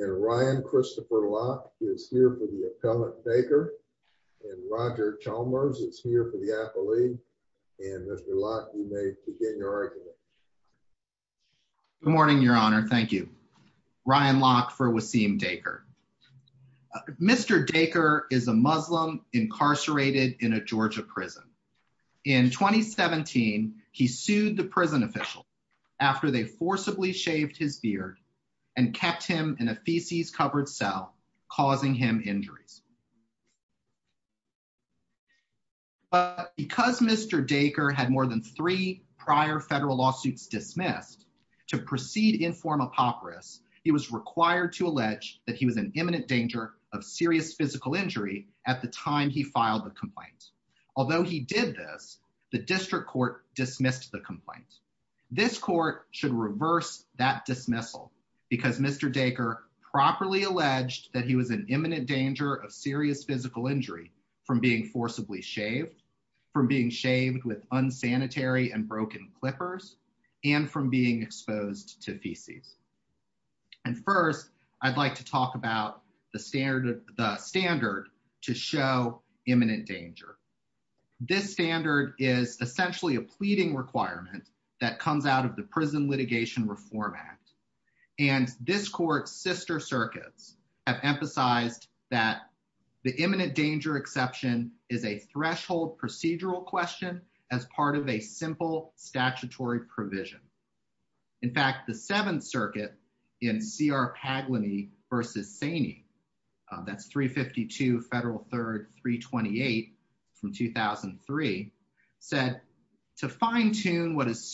and Ryan Christopher Locke is here for the appellate baker and Roger Chalmers is here for the appellate and Mr. Locke you may begin your argument. Good morning your honor thank you. Ryan Locke for Waseem Daker. Mr. Daker is a Muslim incarcerated in a Georgia prison. In 2017 he sued the prison official after they forcibly shaved his beard and kept him in a feces-covered cell causing him injuries. But because Mr. Daker had more than three prior federal lawsuits dismissed to proceed inform apocryphs he was required to allege that he was an imminent danger of serious physical injury at the time he filed the complaint. Although he did this, the district court dismissed the complaint. This court should reverse that dismissal because Mr. Daker properly alleged that he was an imminent danger of serious physical injury from being forcibly shaved, from being shaved with unsanitary and broken clippers, and from being exposed to feces. And first I'd like to talk about the standard the standard to show imminent danger. This standard is essentially a pleading requirement that comes out of the Prison Litigation Reform Act. And this court's sister circuits have emphasized that the imminent danger exception is a threshold procedural question as part of a simple statutory provision. In fact the Seventh Circuit in C.R. Pagleny v. Saney, that's 352 Federal 3rd 328 from 2003, said to fine-tune what is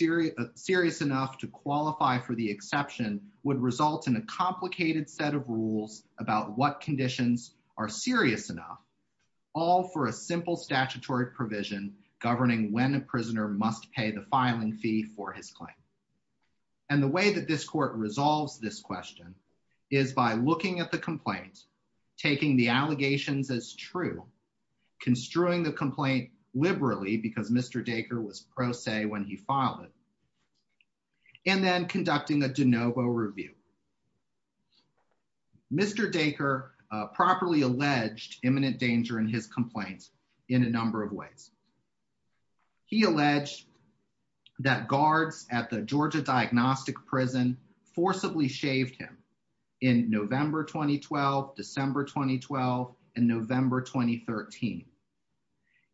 serious enough to qualify for the exception would result in a complicated set of rules about what conditions are serious enough, all for a simple statutory provision governing when a prisoner must pay the filing fee for his claim. And the way that this court resolves this question is by looking at the complaint, taking the allegations as true, construing the complaint liberally because Mr. Dacre was pro se when he filed it, and then conducting a de novo review. Mr. Dacre properly alleged imminent danger in his complaints in a number of ways. He alleged that guards at the Georgia Diagnostic Prison forcibly shaved him in November 2012, December 2012, and November 2013.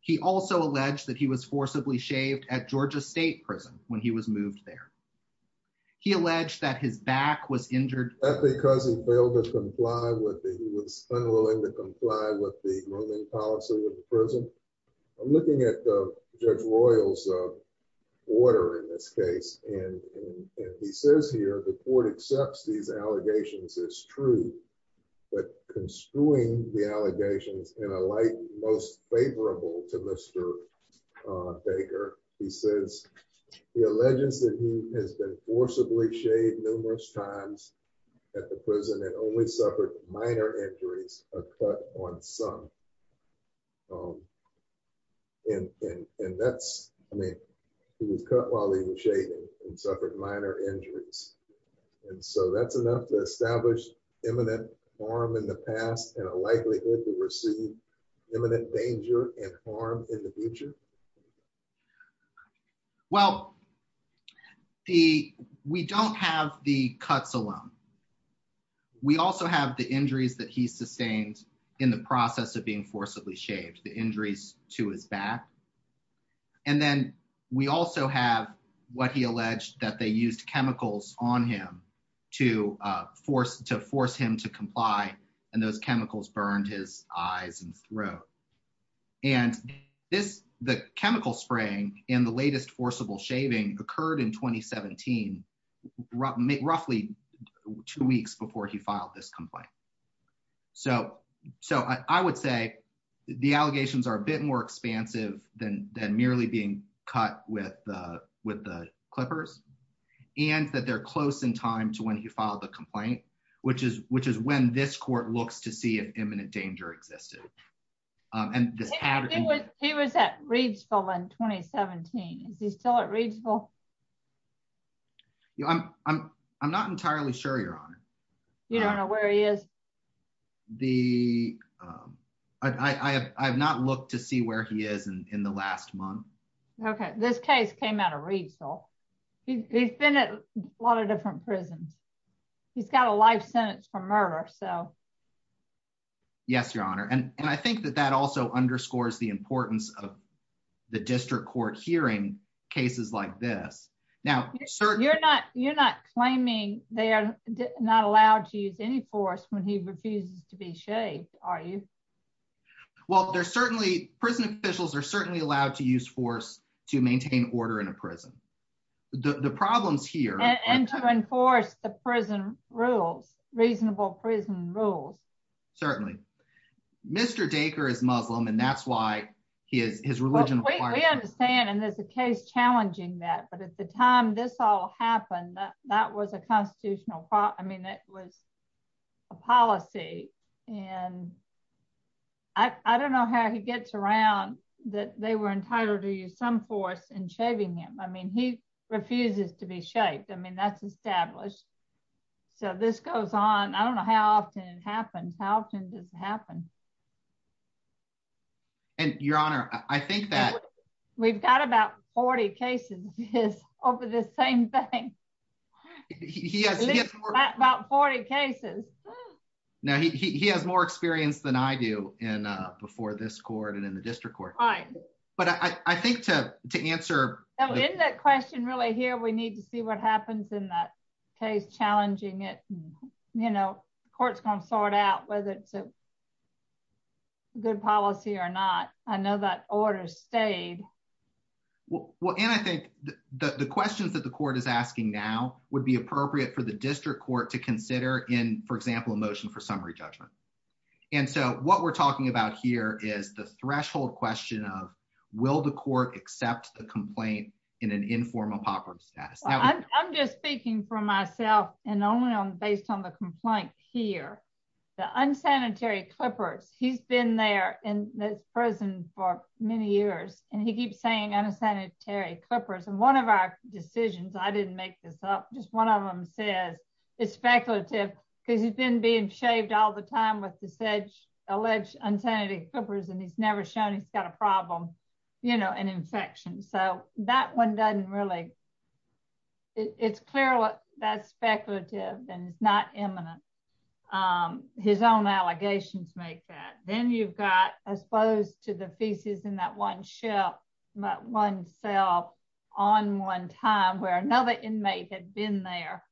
He also alleged that he was forcibly shaved at Georgia State Prison when he was moved there. He alleged that his back was injured because he failed to comply with the, he was unwilling to comply with the grooming policy of the prison. I'm looking at Judge Royal's order in this case and he says here the court accepts these allegations as true, but construing the allegations in a light most favorable to Mr. Dacre, he says he alleges that he has been forcibly shaved numerous times at the prison and only suffered minor injuries, a cut on some. And that's, I mean, he was cut while he was shaving and suffered minor injuries. And so that's enough to establish imminent harm in the past and a likelihood to receive imminent danger and harm in the future? Well, the, we don't have the cuts alone. We also have the injuries that he sustained in the process of being forcibly shaved, the injuries to his back. And then we also have what he alleged that they used chemicals on him to force him to comply. And those chemicals burned his eyes and throat. And this, the chemical spraying in the latest forcible shaving occurred in 2017, roughly two weeks before he filed this complaint. So I would say the allegations are a with the Clippers and that they're close in time to when he filed the complaint, which is, which is when this court looks to see if imminent danger existed. He was at Reedsville in 2017. Is he still at Reedsville? I'm not entirely sure, Your Honor. You don't know where he is? The, I have not looked to see where he is in the last month. Okay. This case came out of Reedsville. He's been at a lot of different prisons. He's got a life sentence for murder. So, Yes, Your Honor. And I think that that also underscores the importance of the district court hearing cases like this. Now, you're not, you're not claiming they are not allowed to use any force when he refuses to be shaved. Are you? Well, there's certainly, prison officials are certainly allowed to use force to maintain order in a prison. The problems here... And to enforce the prison rules, reasonable prison rules. Certainly. Mr. Dacre is Muslim, and that's why he is, his religion... We understand, and there's a case challenging that. But at the time this all happened, that was a constitutional, I mean, it was a policy. And I don't know how he gets around that they were entitled to use some force in shaving him. I mean, he refuses to be shaved. I mean, that's established. So this goes on. I don't know how often it happens. How often does it happen? And Your Honor, I think that... Over the same thing. About 40 cases. Now, he has more experience than I do in before this court and in the district court. Right. But I think to answer... In that question really here, we need to see what happens in that case challenging it. You know, court's gonna sort out whether it's a good policy or not. I know that order stayed. Well, and I think the questions that the court is asking now would be appropriate for the district court to consider in, for example, a motion for summary judgment. And so what we're talking about here is the threshold question of, will the court accept the complaint in an informal poverty status? I'm just speaking for myself and only based on the complaint here. The unsanitary Clippers, he's been there in the prison for many years and he keeps saying unsanitary Clippers. And one of our decisions, I didn't make this up, just one of them says it's speculative because he's been being shaved all the time with alleged unsanitary Clippers and he's never shown he's got a problem, you know, an infection. So that one doesn't really... It's clear that's speculative and it's not imminent. His own allegations make that. Then you've got, I suppose, to the feces in that one shelf, that one cell on one time where another inmate had been there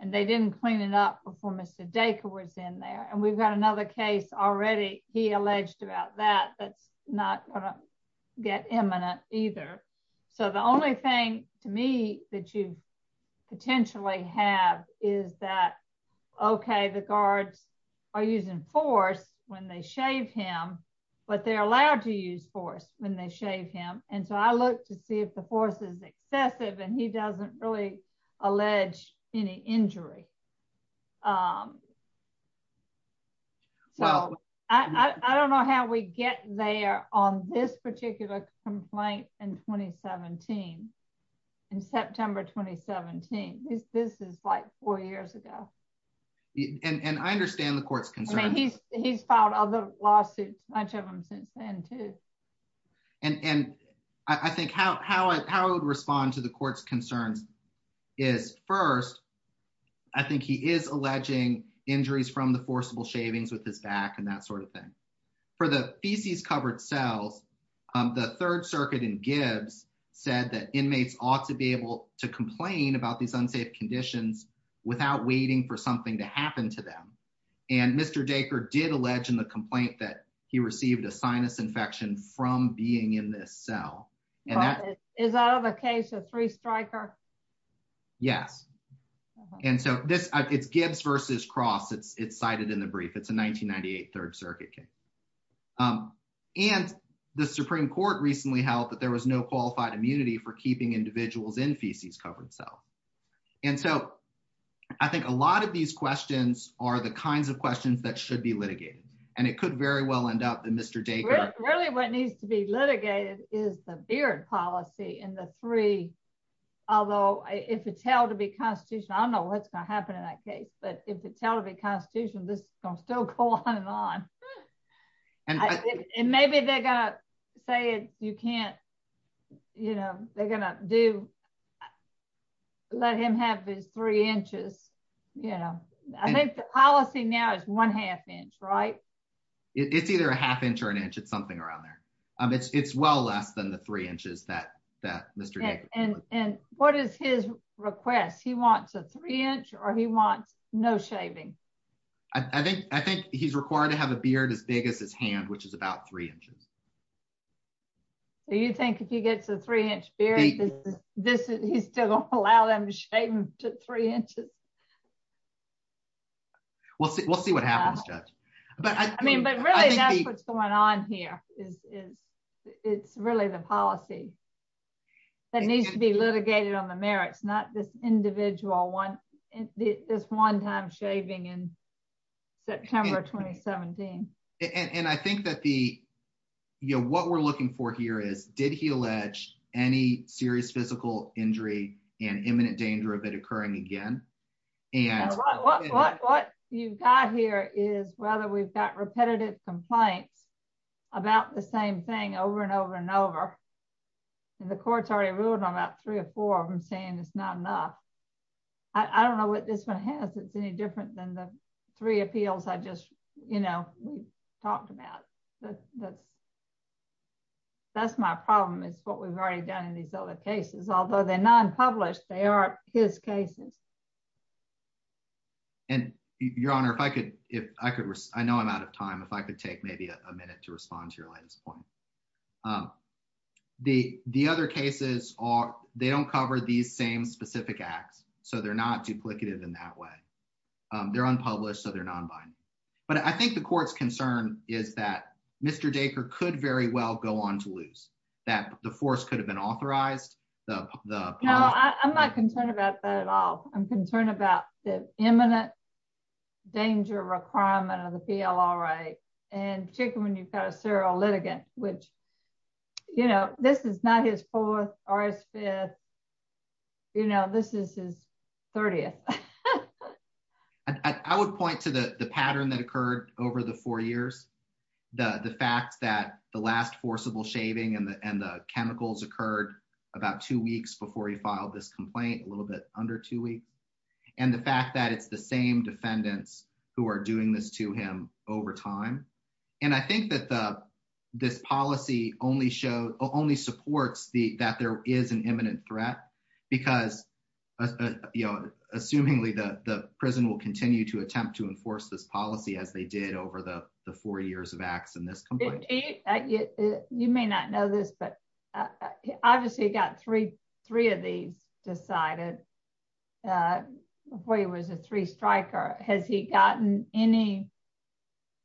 and they didn't clean it up before Mr. Dacre was in there. And we've got another case already, he alleged about that, that's not gonna get imminent either. So the only thing to me that you potentially have is that, okay, the guards are using force when they shave him, but they're allowed to use force when they shave him. And so I look to see if the force is excessive and he doesn't really allege any injury. So I don't know how we get there on this particular complaint in 2017, in September 2017. This is like four years ago. And I understand the court's concern. I mean, he's filed other lawsuits, much of them since then too. And I think how I would respond to the court's concerns is first, I think he is alleging injuries from the forcible shavings with his back and that sort of thing. For the feces covered cells, the third circuit in Gibbs said that inmates ought to be able to complain about these unsafe conditions without waiting for something to happen to them. And Mr. Dacre did allege in the complaint that he received a sinus infection from being in this cell. But is that of a case of three striker? Yes. And so it's Gibbs versus Cross, it's cited in the brief, it's a 1998 third circuit case. And the Supreme Court recently held that there was no qualified immunity for keeping individuals in feces covered cell. And so I think a lot of these questions are the kinds of questions that should be litigated. And it could very well end up that Mr. Dacre... Really what needs to be litigated is the beard policy in the three, although if it's held to be constitutional, I don't know what's going to happen in that case, but if it's held to be constitutional, this is going to still go on and on. And maybe they're going to say you can't, they're going to let him have his three inches. I think the policy now is one half inch, right? It's either a half inch or an inch, it's something around there. It's well less than the three inches that Mr. Dacre... And what is his request? He wants a three inch or he wants no shaving. I think he's required to have a beard as big as his hand, which is about three inches. Do you think if he gets a three inch beard, he's still going to allow them to shave him to three inches? We'll see what happens, Judge. But really that's what's going on here. It's really the policy that needs to be litigated on the merits, not this individual, this one time shaving in September 2017. And I think that what we're looking for here is, did he allege any serious physical injury and imminent danger of it occurring again? What you've got here is whether we've got repetitive complaints about the same thing over and over and over, and the court's already ruled on about three or four of them saying it's not enough. I don't know what this one has that's any different than the three appeals I just, you know, talked about. That's my problem, is what we've already done in these other cases. Although they're non-published, they are his cases. And Your Honor, if I could... I know I'm out of time. If I could take maybe a minute to respond to your latest point. The other cases they don't cover these same specific acts, so they're not duplicative in that way. They're unpublished, so they're non-binding. But I think the court's concern is that Mr. Dacre could very well go on to lose, that the force could have been authorized. No, I'm not concerned about that at all. I'm concerned about the imminent danger requirement of the PLRA, and particularly when you've got a serial litigant, which, you know, this is not his fourth or his fifth, you know, this is his 30th. I would point to the pattern that occurred over the four years, the fact that the last forcible shaving and the chemicals occurred about two weeks before he filed this complaint, a little bit under two weeks, and the fact that it's the same defendants who are doing this to him over time. And I think that this policy only supports that there is an imminent threat, because, you know, assumingly the prison will continue to attempt to enforce this policy as they did over the four years of acts in this complaint. You may not know this, but obviously he got three of these decided before he was a three-striker. Has he gotten any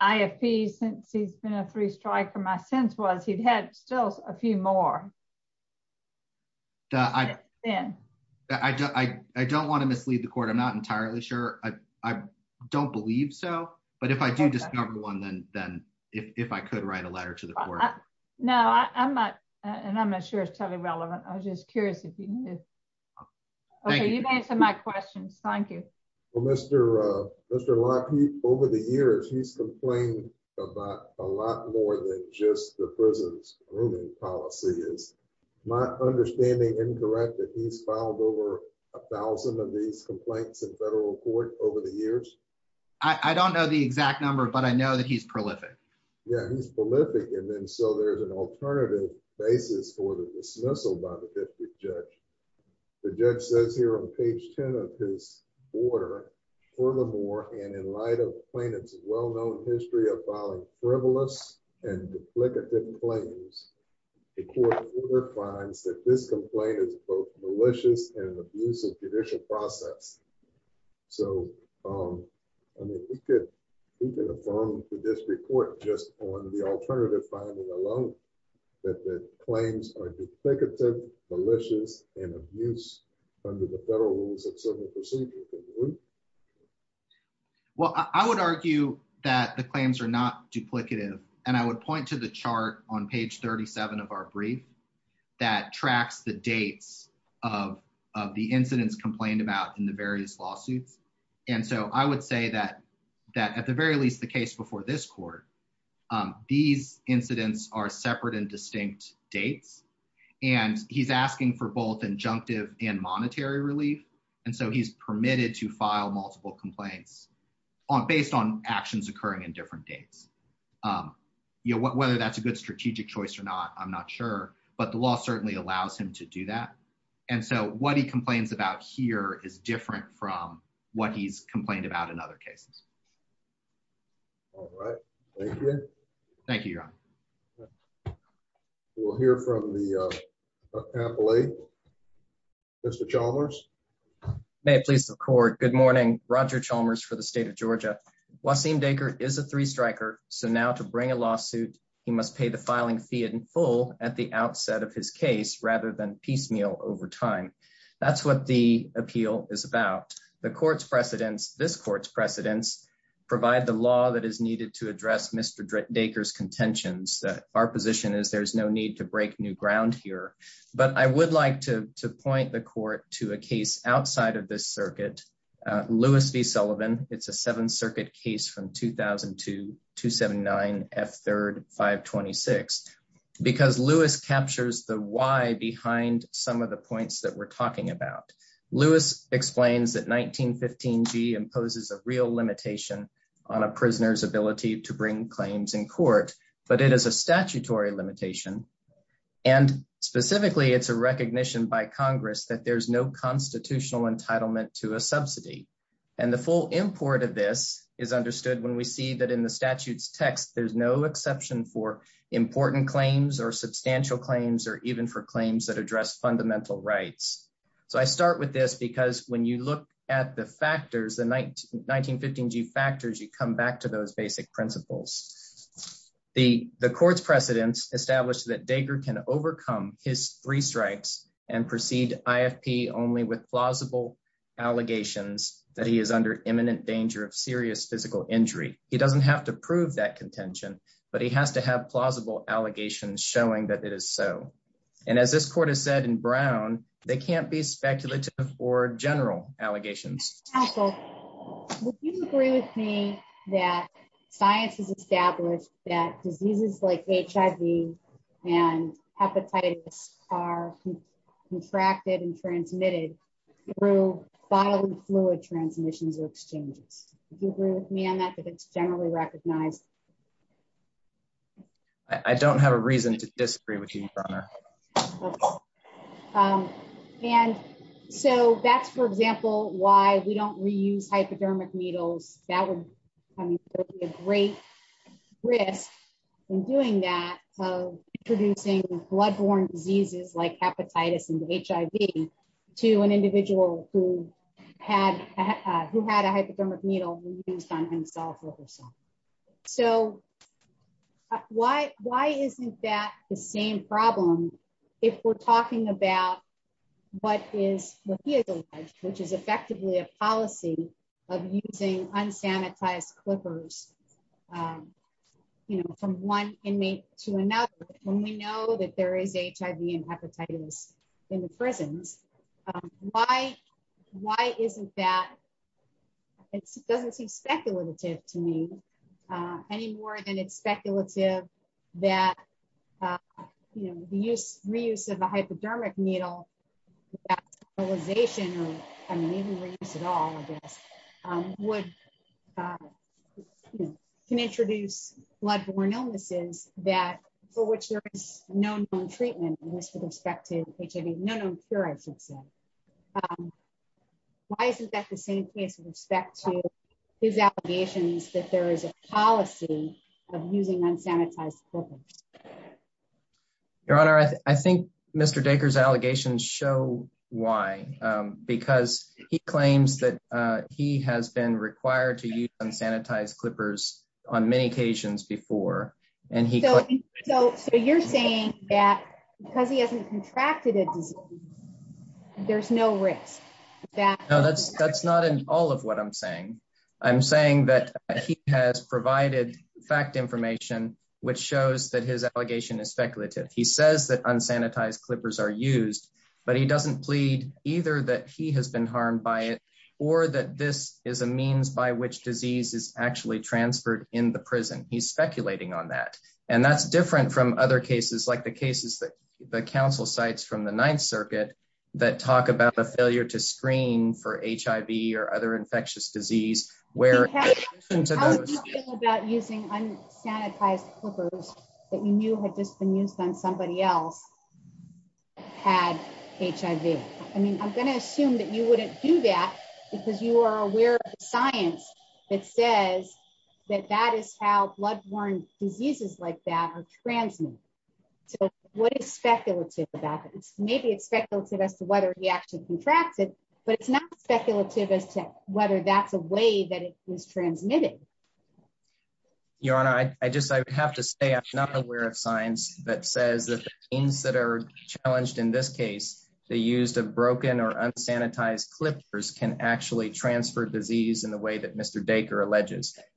IFP since he's been a three-striker? My sense was he'd had still a few more. I don't want to mislead the court. I'm not entirely sure. I don't believe so, but if I do discover one, then if I could write a letter to the court. No, I'm not, and I'm not sure it's totally relevant. I was just curious if you knew. Okay, you've answered my questions. Thank you. Well, Mr. Locke, over the years, he's complained about a lot more than just the prison's grooming policy. Is my understanding incorrect that he's filed over a thousand of these complaints in federal court over the years? I don't know the alternative basis for the dismissal by the district judge. The judge says here on page 10 of his order, furthermore, and in light of the plaintiff's well-known history of filing frivolous and duplicative claims, the court finds that this complaint is both malicious and an abusive process. So, I mean, we could affirm to this report just on the alternative finding alone that the claims are duplicative, malicious, and abuse under the federal rules of civil procedure. Well, I would argue that the claims are not duplicative, and I would point to the chart on page 37 of our brief that tracks the dates of the incidents complained about in the various lawsuits, and so I would say that at the very least the case before this court, these incidents are separate and distinct dates, and he's asking for both injunctive and monetary relief, and so he's permitted to file multiple complaints based on actions occurring in different dates. You know, whether that's a good strategic choice or not, I'm not sure, but the law certainly allows him to do that, and so what he complains about here is different from what he's complained about in other cases. All right. Thank you. Thank you, Your Honor. We'll hear from the appellate. Mr. Chalmers. May it please the court. Good morning. Roger Chalmers for the state of So now to bring a lawsuit, he must pay the filing fee in full at the outset of his case rather than piecemeal over time. That's what the appeal is about. The court's precedents, this court's precedents, provide the law that is needed to address Mr. Dacre's contentions. Our position is there's no need to break new ground here, but I would like to point the court to a case outside of this circuit, Lewis v. Sullivan. It's a Seventh Circuit case from 2002-279-F3-526, because Lewis captures the why behind some of the points that we're talking about. Lewis explains that 1915g imposes a real limitation on a prisoner's ability to bring claims in court, but it is a statutory limitation, and specifically it's a recognition by Congress that there's no constitutional entitlement to a subsidy. And the full import of this is understood when we see that in the statute's text there's no exception for important claims or substantial claims or even for claims that address fundamental rights. So I start with this because when you look at the factors, the 1915g factors, you come back to those basic principles. The court's precedents establish that Dacre can overcome his three strikes and proceed IFP only with plausible allegations that he is under imminent danger of serious physical injury. He doesn't have to prove that contention, but he has to have plausible allegations showing that it is so. And as this court has said in Brown, they can't be speculative or general allegations. Counsel, would you agree with me that science has established that diseases like HIV and hepatitis are contracted and transmitted through bodily fluid transmissions or exchanges? Do you agree with me on that, that it's generally recognized? I don't have a reason to disagree with you, Your Honor. Okay. And so that's, for example, why we don't reuse hypodermic needles. That would be a great risk in doing that of introducing blood-borne diseases like hepatitis and HIV to an individual who had a hypodermic needle reused on himself or herself. So why isn't that the same problem if we're talking about what is what he has alleged, which is effectively a policy of using unsanitized clippers from one inmate to another when we know that there is HIV and hepatitis in the prisons? Why isn't that, it doesn't seem speculative to me any more than it's speculative that, you know, the use, reuse of a hypodermic needle, that sterilization, or I mean even reuse at all, I guess, would, you know, can introduce blood-borne illnesses that, for which there is no known treatment with respect to HIV, no known cure, I should say. Why isn't that the same case with respect to his allegations that there is a policy of using unsanitized clippers? Your Honor, I think Mr. Dacre's allegations show why, because he claims that he has been required to use unsanitized clippers on many occasions before. So you're saying that because he hasn't contracted a disease, there's no risk? No, that's not in all of what I'm saying. I'm saying that he has provided fact information which shows that his allegation is speculative. He says that unsanitized clippers are used, but he doesn't plead either that he has been harmed by it or that this is a means by which disease is actually transferred in the prison. He's speculating on that, and that's different from other cases, like the cases that the counsel cites from the Ninth Circuit that talk about the failure to screen for HIV or other infectious disease. How would you feel about using unsanitized clippers that you knew had just been used on somebody else who had HIV? I mean, I'm going to say that that is how blood-borne diseases like that are transmitted. So what is speculative about it? Maybe it's speculative as to whether he actually contracted, but it's not speculative as to whether that's a way that it was transmitted. Your Honor, I just have to say I'm not aware of science that says that the things that are challenged in this case, the use of broken or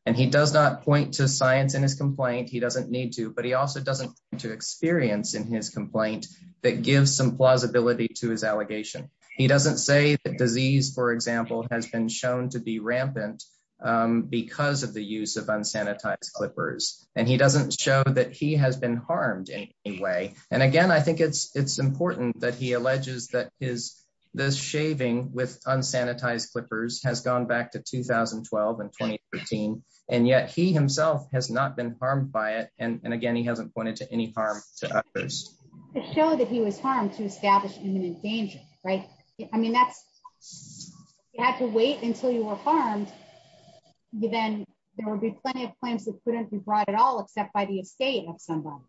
And he does not point to science in his complaint. He doesn't need to, but he also doesn't want to experience in his complaint that gives some plausibility to his allegation. He doesn't say that disease, for example, has been shown to be rampant because of the use of unsanitized clippers, and he doesn't show that he has been harmed in any way. And again, I think it's in 2013, and yet he himself has not been harmed by it. And again, he hasn't pointed to any harm. To show that he was harmed to establish imminent danger, right? I mean, you had to wait until you were harmed, then there would be plenty of claims that couldn't be brought at all, except by the estate of somebody.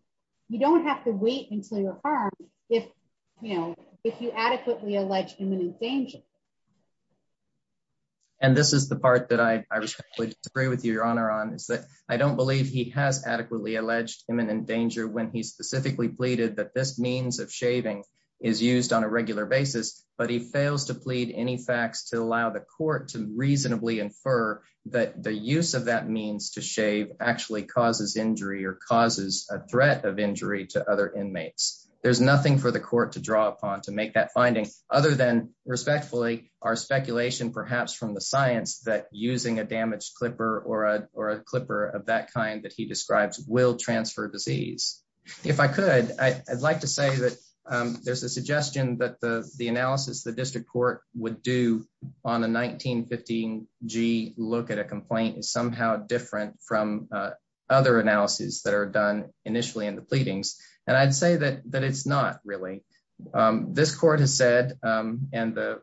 You don't have to wait until you're harmed if you adequately allege imminent danger. And this is the part that I would agree with your honor on is that I don't believe he has adequately alleged imminent danger when he specifically pleaded that this means of shaving is used on a regular basis, but he fails to plead any facts to allow the court to reasonably infer that the use of that means to shave actually causes injury or causes a threat of injury to other inmates. There's nothing for the court to draw upon to make that finding, other than respectfully, our speculation perhaps from the science that using a damaged clipper or a clipper of that kind that he describes will transfer disease. If I could, I'd like to say that there's a suggestion that the analysis the district court would do on a 1915G look at a complaint is somehow different from other analyses that are done initially in the pleadings. And I'd say that it's not really. This court has said, and the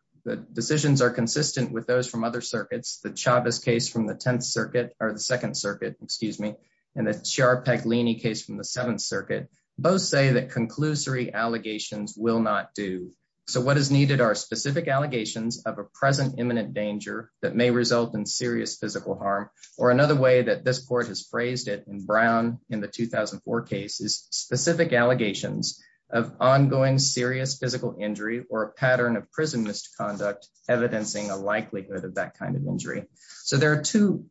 decisions are consistent with those from other circuits, the Chavez case from the 10th circuit or the 2nd circuit, excuse me, and the Chiarpaglini case from the 7th circuit, both say that conclusory allegations will not do. So what is needed are specific allegations of a present imminent danger that may result in serious physical harm or another way that this court has phrased it in Brown in the 2004 case is specific allegations of ongoing serious physical injury or a pattern of prison misconduct, evidencing a likelihood of that kind of injury. So there are two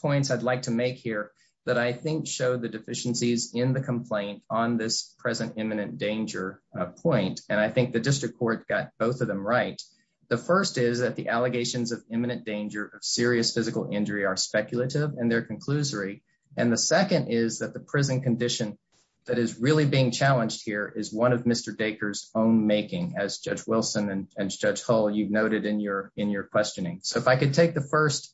points I'd like to make here that I think show the deficiencies in the complaint on this present imminent danger point. And I think the district court got both of them right. The first is that the allegations of imminent danger of serious physical injury are speculative and they're conclusory. And the second is that the prison condition that is really being challenged here is one of Mr. Dacre's own making as Judge Wilson and Judge Hull, you've noted in your questioning. So if I could take the first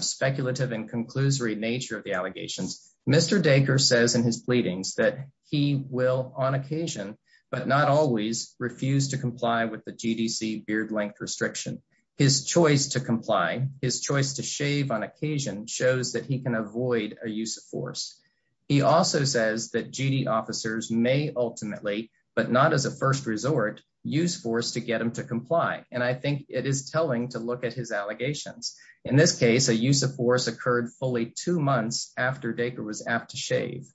speculative and conclusory nature of the allegations, Mr. Dacre says in his pleadings that he will on occasion, but not always refuse to comply with the GDC beard length restriction. His choice to comply, his choice to shave on occasion shows that he can avoid a use of force. He also says that GD officers may ultimately, but not as a first resort use force to get them to comply. And I think it is telling to look at his allegations. In this case, a use of force occurred fully two months after Dacre was apt to shave.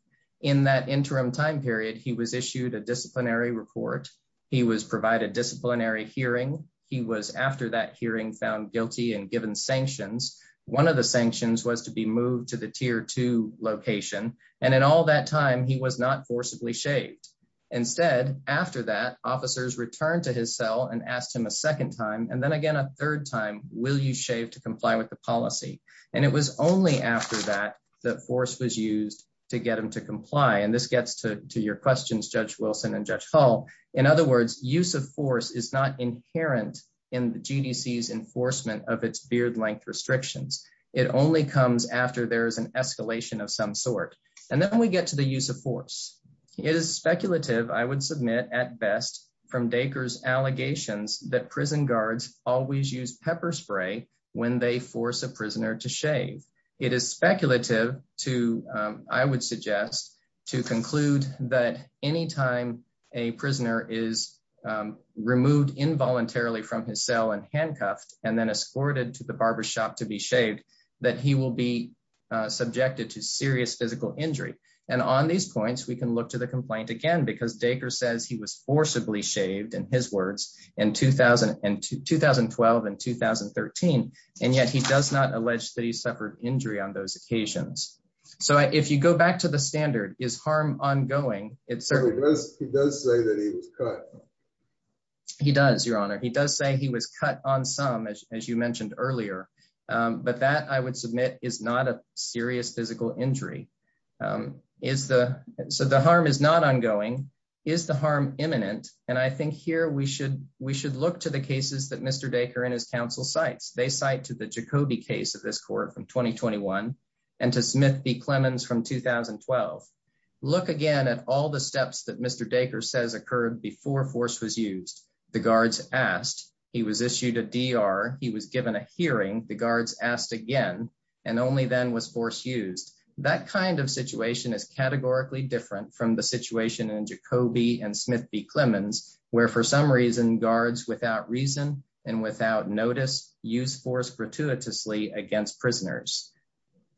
In that interim time period, he was issued a disciplinary report. He was provided disciplinary hearing. He was after that hearing found guilty and given sanctions. One of the sanctions was to be moved to the tier two location. And in all that time, he was not forcibly shaved. Instead, after that officers returned to his cell and asked him a second time. And then again, a third time, will you shave to comply with the policy? And it was only after that, that force was used to get them to comply. And this gets to your questions, Judge Wilson and Judge Hall. In other words, use of force is not inherent in the GDC's enforcement of its beard length restrictions. It only comes after there is an escalation of some sort. And then we get to the use of force. It is speculative, I would submit at best from Dacre's allegations that prison guards always use pepper spray when they force a prisoner to shave. It is speculative to, I would suggest, to conclude that anytime a prisoner is removed involuntarily from his cell and handcuffed and then escorted to the barber shop to be shaved, that he will be subjected to serious physical injury. And on these points, we can look to the complaint again, because Dacre says he was forcibly shaved, in his words, in 2012 and 2013. And yet he does not allege that he suffered injury on those occasions. So if you go back to the standard, is harm ongoing? It certainly does. He does say that he was cut. He does, Your Honor. He does say he was cut on some, as you mentioned earlier. But that, I would submit, is not a serious physical injury. So the harm is not ongoing. Is the harm imminent? And I think here we should look to the cases that Mr. Dacre and his counsel cites. They cite to the Jacobi case of this court from 2021 and to Smith v. Clemons from 2012. Look again at all the steps that Mr. Dacre says occurred before force was used. The guards asked. He was issued a D.R. He was given a hearing. The guards asked again, and only then was force used. That kind of situation is categorically different from the situation in Jacobi and Smith v. Clemons, where for some reason, guards without reason and without notice use force gratuitously against prisoners.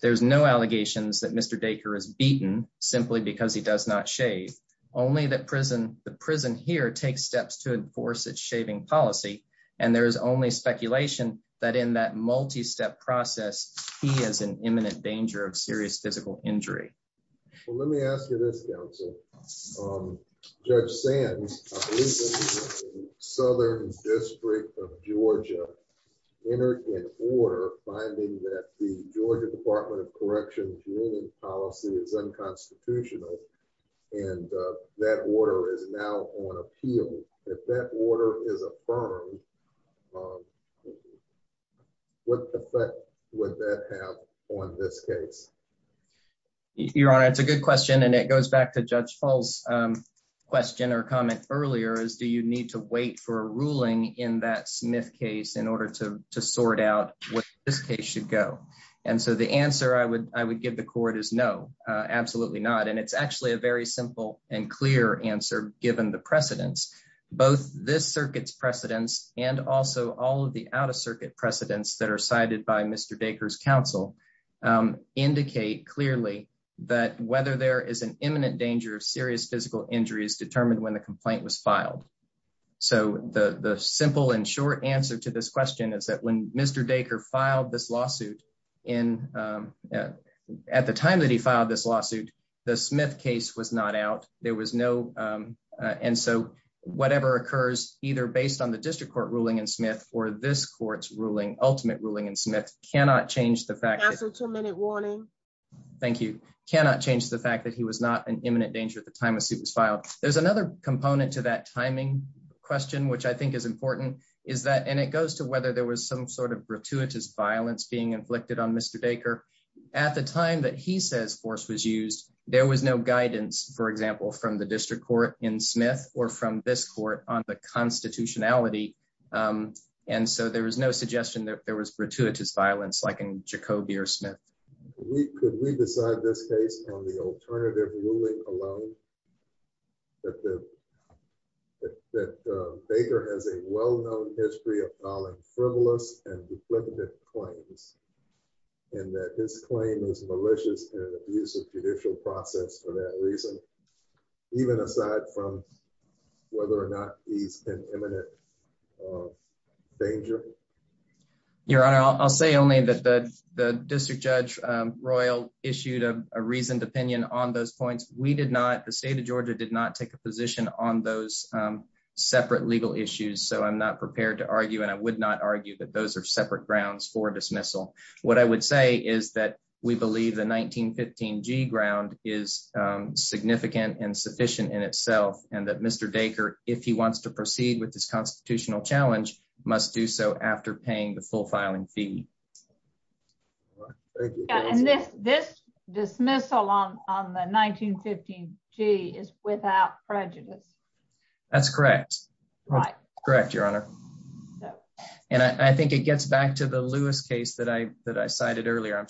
There's no allegations that Mr. Dacre is beaten simply because he does not shave, only that the prison here takes steps to enforce its shaving policy. And there is only speculation that in that multi-step process, he is in imminent danger of serious physical injury. Well, let me ask you this, counsel. Judge Sands, I believe that the Southern District of Georgia entered an order finding that the Georgia Department of Corrections union policy is unconstitutional, and that order is now on appeal. If that order is affirmed, what effect would that have on this case? Your Honor, it's a good question, and it goes back to Judge Fall's question or comment earlier, is do you need to wait for a ruling in that Smith case in order to sort out what this case should go? And so the answer I would give the court is no, absolutely not. And it's actually a very simple and clear answer given the precedence. Both this and also all of the out-of-circuit precedents that are cited by Mr. Dacre's counsel indicate clearly that whether there is an imminent danger of serious physical injury is determined when the complaint was filed. So the simple and short answer to this question is that when Mr. Dacre filed this lawsuit in, at the time that he filed this lawsuit, the Smith case was not out. There this court's ultimate ruling in Smith cannot change the fact that he was not in imminent danger at the time the suit was filed. There's another component to that timing question which I think is important, and it goes to whether there was some sort of gratuitous violence being inflicted on Mr. Dacre. At the time that he says force was used, there was no guidance, for example, from the district court in Smith or from this court on the constitutionality. And so there was no suggestion that there was gratuitous violence like in Jacobi or Smith. Could we decide this case on the alternative ruling alone? That Dacre has a well-known history of filing frivolous and even aside from whether or not he's in imminent danger? Your Honor, I'll say only that the district judge, Royal, issued a reasoned opinion on those points. We did not, the state of Georgia, did not take a position on those separate legal issues, so I'm not prepared to argue and I would not argue that those are separate grounds for dismissal. What I would say is that we believe the 1915 G ground is significant and sufficient in itself and that Mr. Dacre, if he wants to proceed with this constitutional challenge, must do so after paying the full filing fee. And this dismissal on the 1915 G is without prejudice. That's correct. Right. Correct, Your Honor. And I think it gets back to the Lewis case that I cited earlier. I'm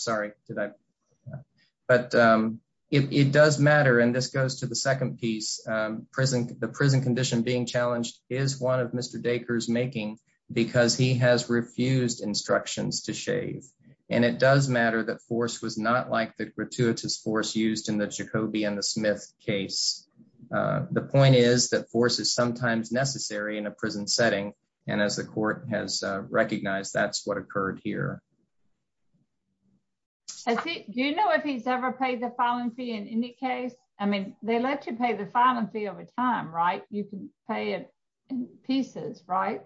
and this goes to the second piece. The prison condition being challenged is one of Mr. Dacre's making because he has refused instructions to shave. And it does matter that force was not like the gratuitous force used in the Jacobi and the Smith case. The point is that force is sometimes necessary in a prison setting. And as the court has recognized, that's what occurred here. I think, do you know if he's ever paid the filing fee in any case? I mean, they let you pay the filing fee over time, right? You can pay it in pieces, right?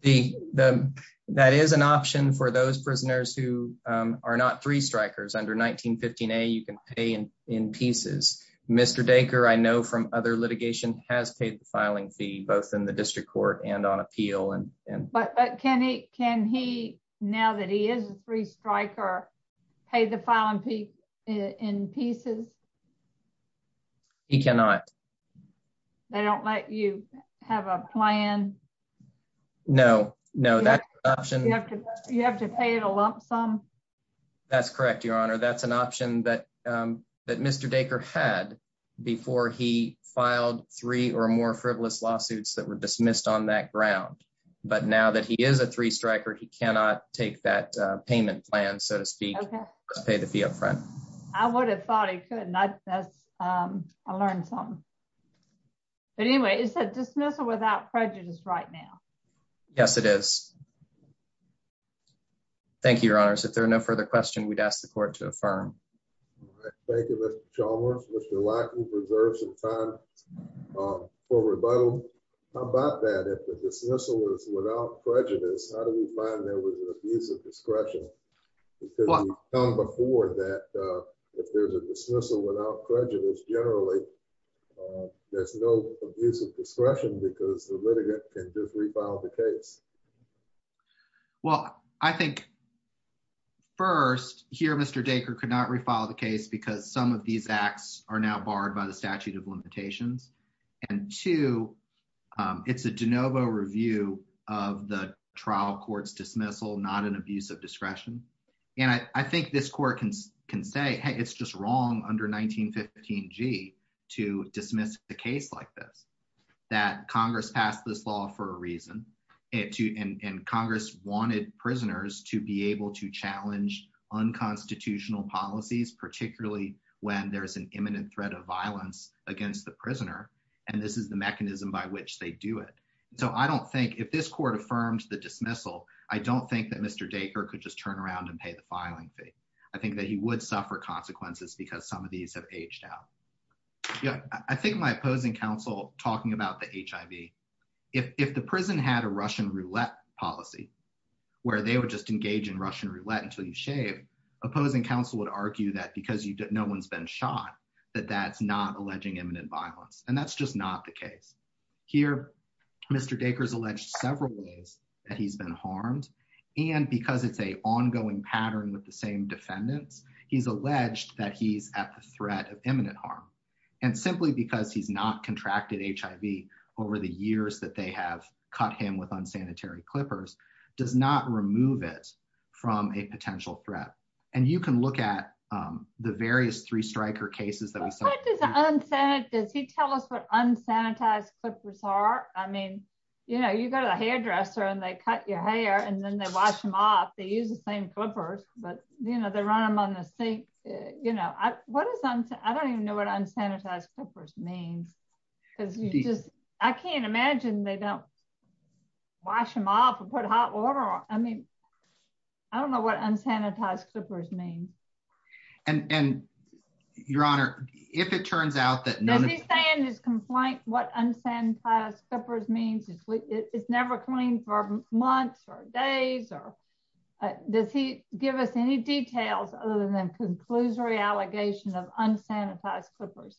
The that is an option for those prisoners who are not three strikers under 1915 A, you can pay in pieces. Mr. Dacre, I know from other litigation, has paid the filing fee, both in the district court and on appeal. And but can he can he now that he is a three striker, pay the filing fee in pieces? He cannot. They don't let you have a plan? No, no, that option, you have to you have to pay it a lump sum. That's correct, Your Honor. That's an option that that Mr. Dacre had before he dismissed on that ground. But now that he is a three striker, he cannot take that payment plan, so to speak, pay the fee up front. I would have thought he could not. I learned something. But anyway, it's a dismissal without prejudice right now. Yes, it is. Thank you, Your Honor. So if there are no further question, we'd ask the court to affirm. Thank you, Mr. Chalmers. Mr. Lack will reserve some time for rebuttal. How about that? If the dismissal is without prejudice, how do we find there was an abuse of discretion? Before that, if there's a dismissal without prejudice, generally, there's no abuse of discretion because the litigant can just refile the case. Well, I think. First here, Mr. Dacre could not refile the case because some of these acts are now barred by the statute of limitations. And two, it's a de novo review of the trial court's dismissal, not an abuse of discretion. And I think this court can can say, hey, it's just wrong under 1915G to dismiss a case like this, that Congress passed this law for a reason. And Congress wanted prisoners to be able to challenge unconstitutional policies, particularly when there is an imminent threat of violence against the prisoner. And this is the mechanism by which they do it. So I don't think if this court affirmed the dismissal, I don't think that Mr. Dacre could just turn around and pay the filing fee. I think that he would suffer consequences because some of these have aged out. Yeah, I think my opposing counsel talking about the HIV, if the prison had a Russian roulette policy, where they would just engage in Russian roulette until you shave, opposing counsel would argue that because no one's been shot, that that's not alleging imminent violence. And that's just not the case. Here, Mr. Dacre's alleged several ways that he's been harmed. And because it's a ongoing pattern with the same defendants, he's alleged that he's at the threat of imminent harm. And simply because he's not contracted HIV over the years that they have cut him with unsanitary clippers does not remove it from a potential threat. And you can look at the various three striker cases that we saw. Does he tell us what unsanitized clippers are? I mean, you go to the hairdresser and they cut your hair and then they wash them off. They use the same clippers, but they run them on the sink. I don't even know what unsanitized clippers means. I can't imagine they don't wash them off and put hot water on. I mean, I don't know what unsanitized clippers mean. And Your Honor, if it turns out that... Does he say in his complaint what unsanitized clippers means? It's never clean for months or days. Does he give us any details other than conclusory allegation of unsanitized clippers?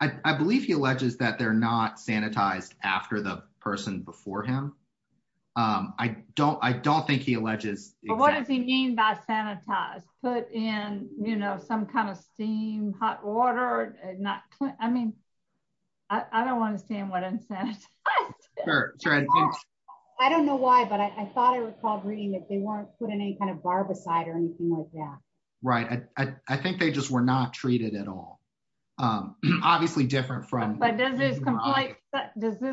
I believe he alleges that they're not sanitized after the person before him. I don't think he alleges... But what does he mean by sanitized? Put in, you know, some kind of steam, hot water, and not... I mean, I don't want to stand what unsanitized... I don't know why, but I thought I recalled reading that they weren't put in any kind of barbicide or anything like that. Right. I think they just were not treated at all. Obviously different from... But does this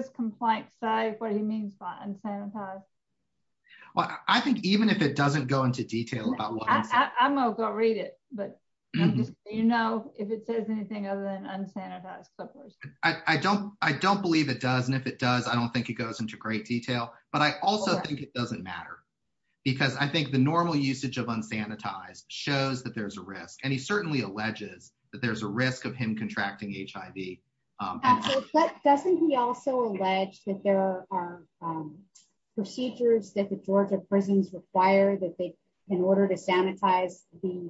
complaint say what he means by unsanitized? Well, I think even if it doesn't go into detail about what... I'm gonna go read it, but you know if it says anything other than unsanitized clippers. I don't believe it does. And if it does, I don't think it goes into great detail. But I also think it doesn't matter because I think the normal usage of unsanitized shows that there's a risk. And he certainly alleges that there's a risk of him contracting HIV. But doesn't he also allege that there are procedures that the Georgia prisons require that they, in order to sanitize the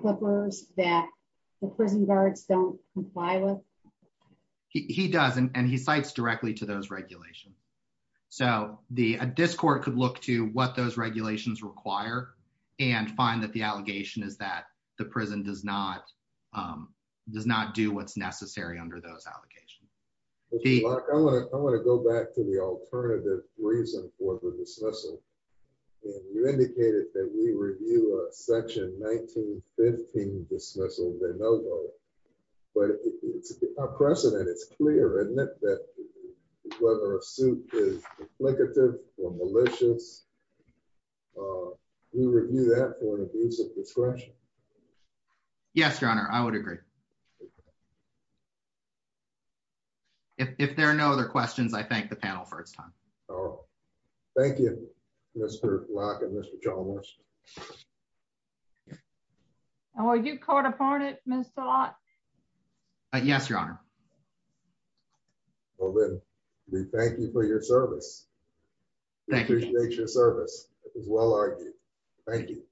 clippers, that the prison guards don't comply with? He does, and he cites directly to those regulations. So a discord could look to what those regulations require and find that the allegation is that the prison does not do what's necessary under those allegations. Mark, I want to go back to the alternative reason for the dismissal. And you indicated that we review a section 1915 dismissal de novo. But it's a precedent, it's clear, isn't it? That whether a suit is implicative or malicious, we review that for an abuse of discretion. Yes, Your Honor, I would agree. If there are no other questions, I thank the panel for its time. Thank you, Mr. Locke and Mr. Chalmers. Are you caught upon it, Mr. Locke? Yes, Your Honor. Well then, we thank you for your service. Thank you. Appreciate your service. It was well argued. Thank you.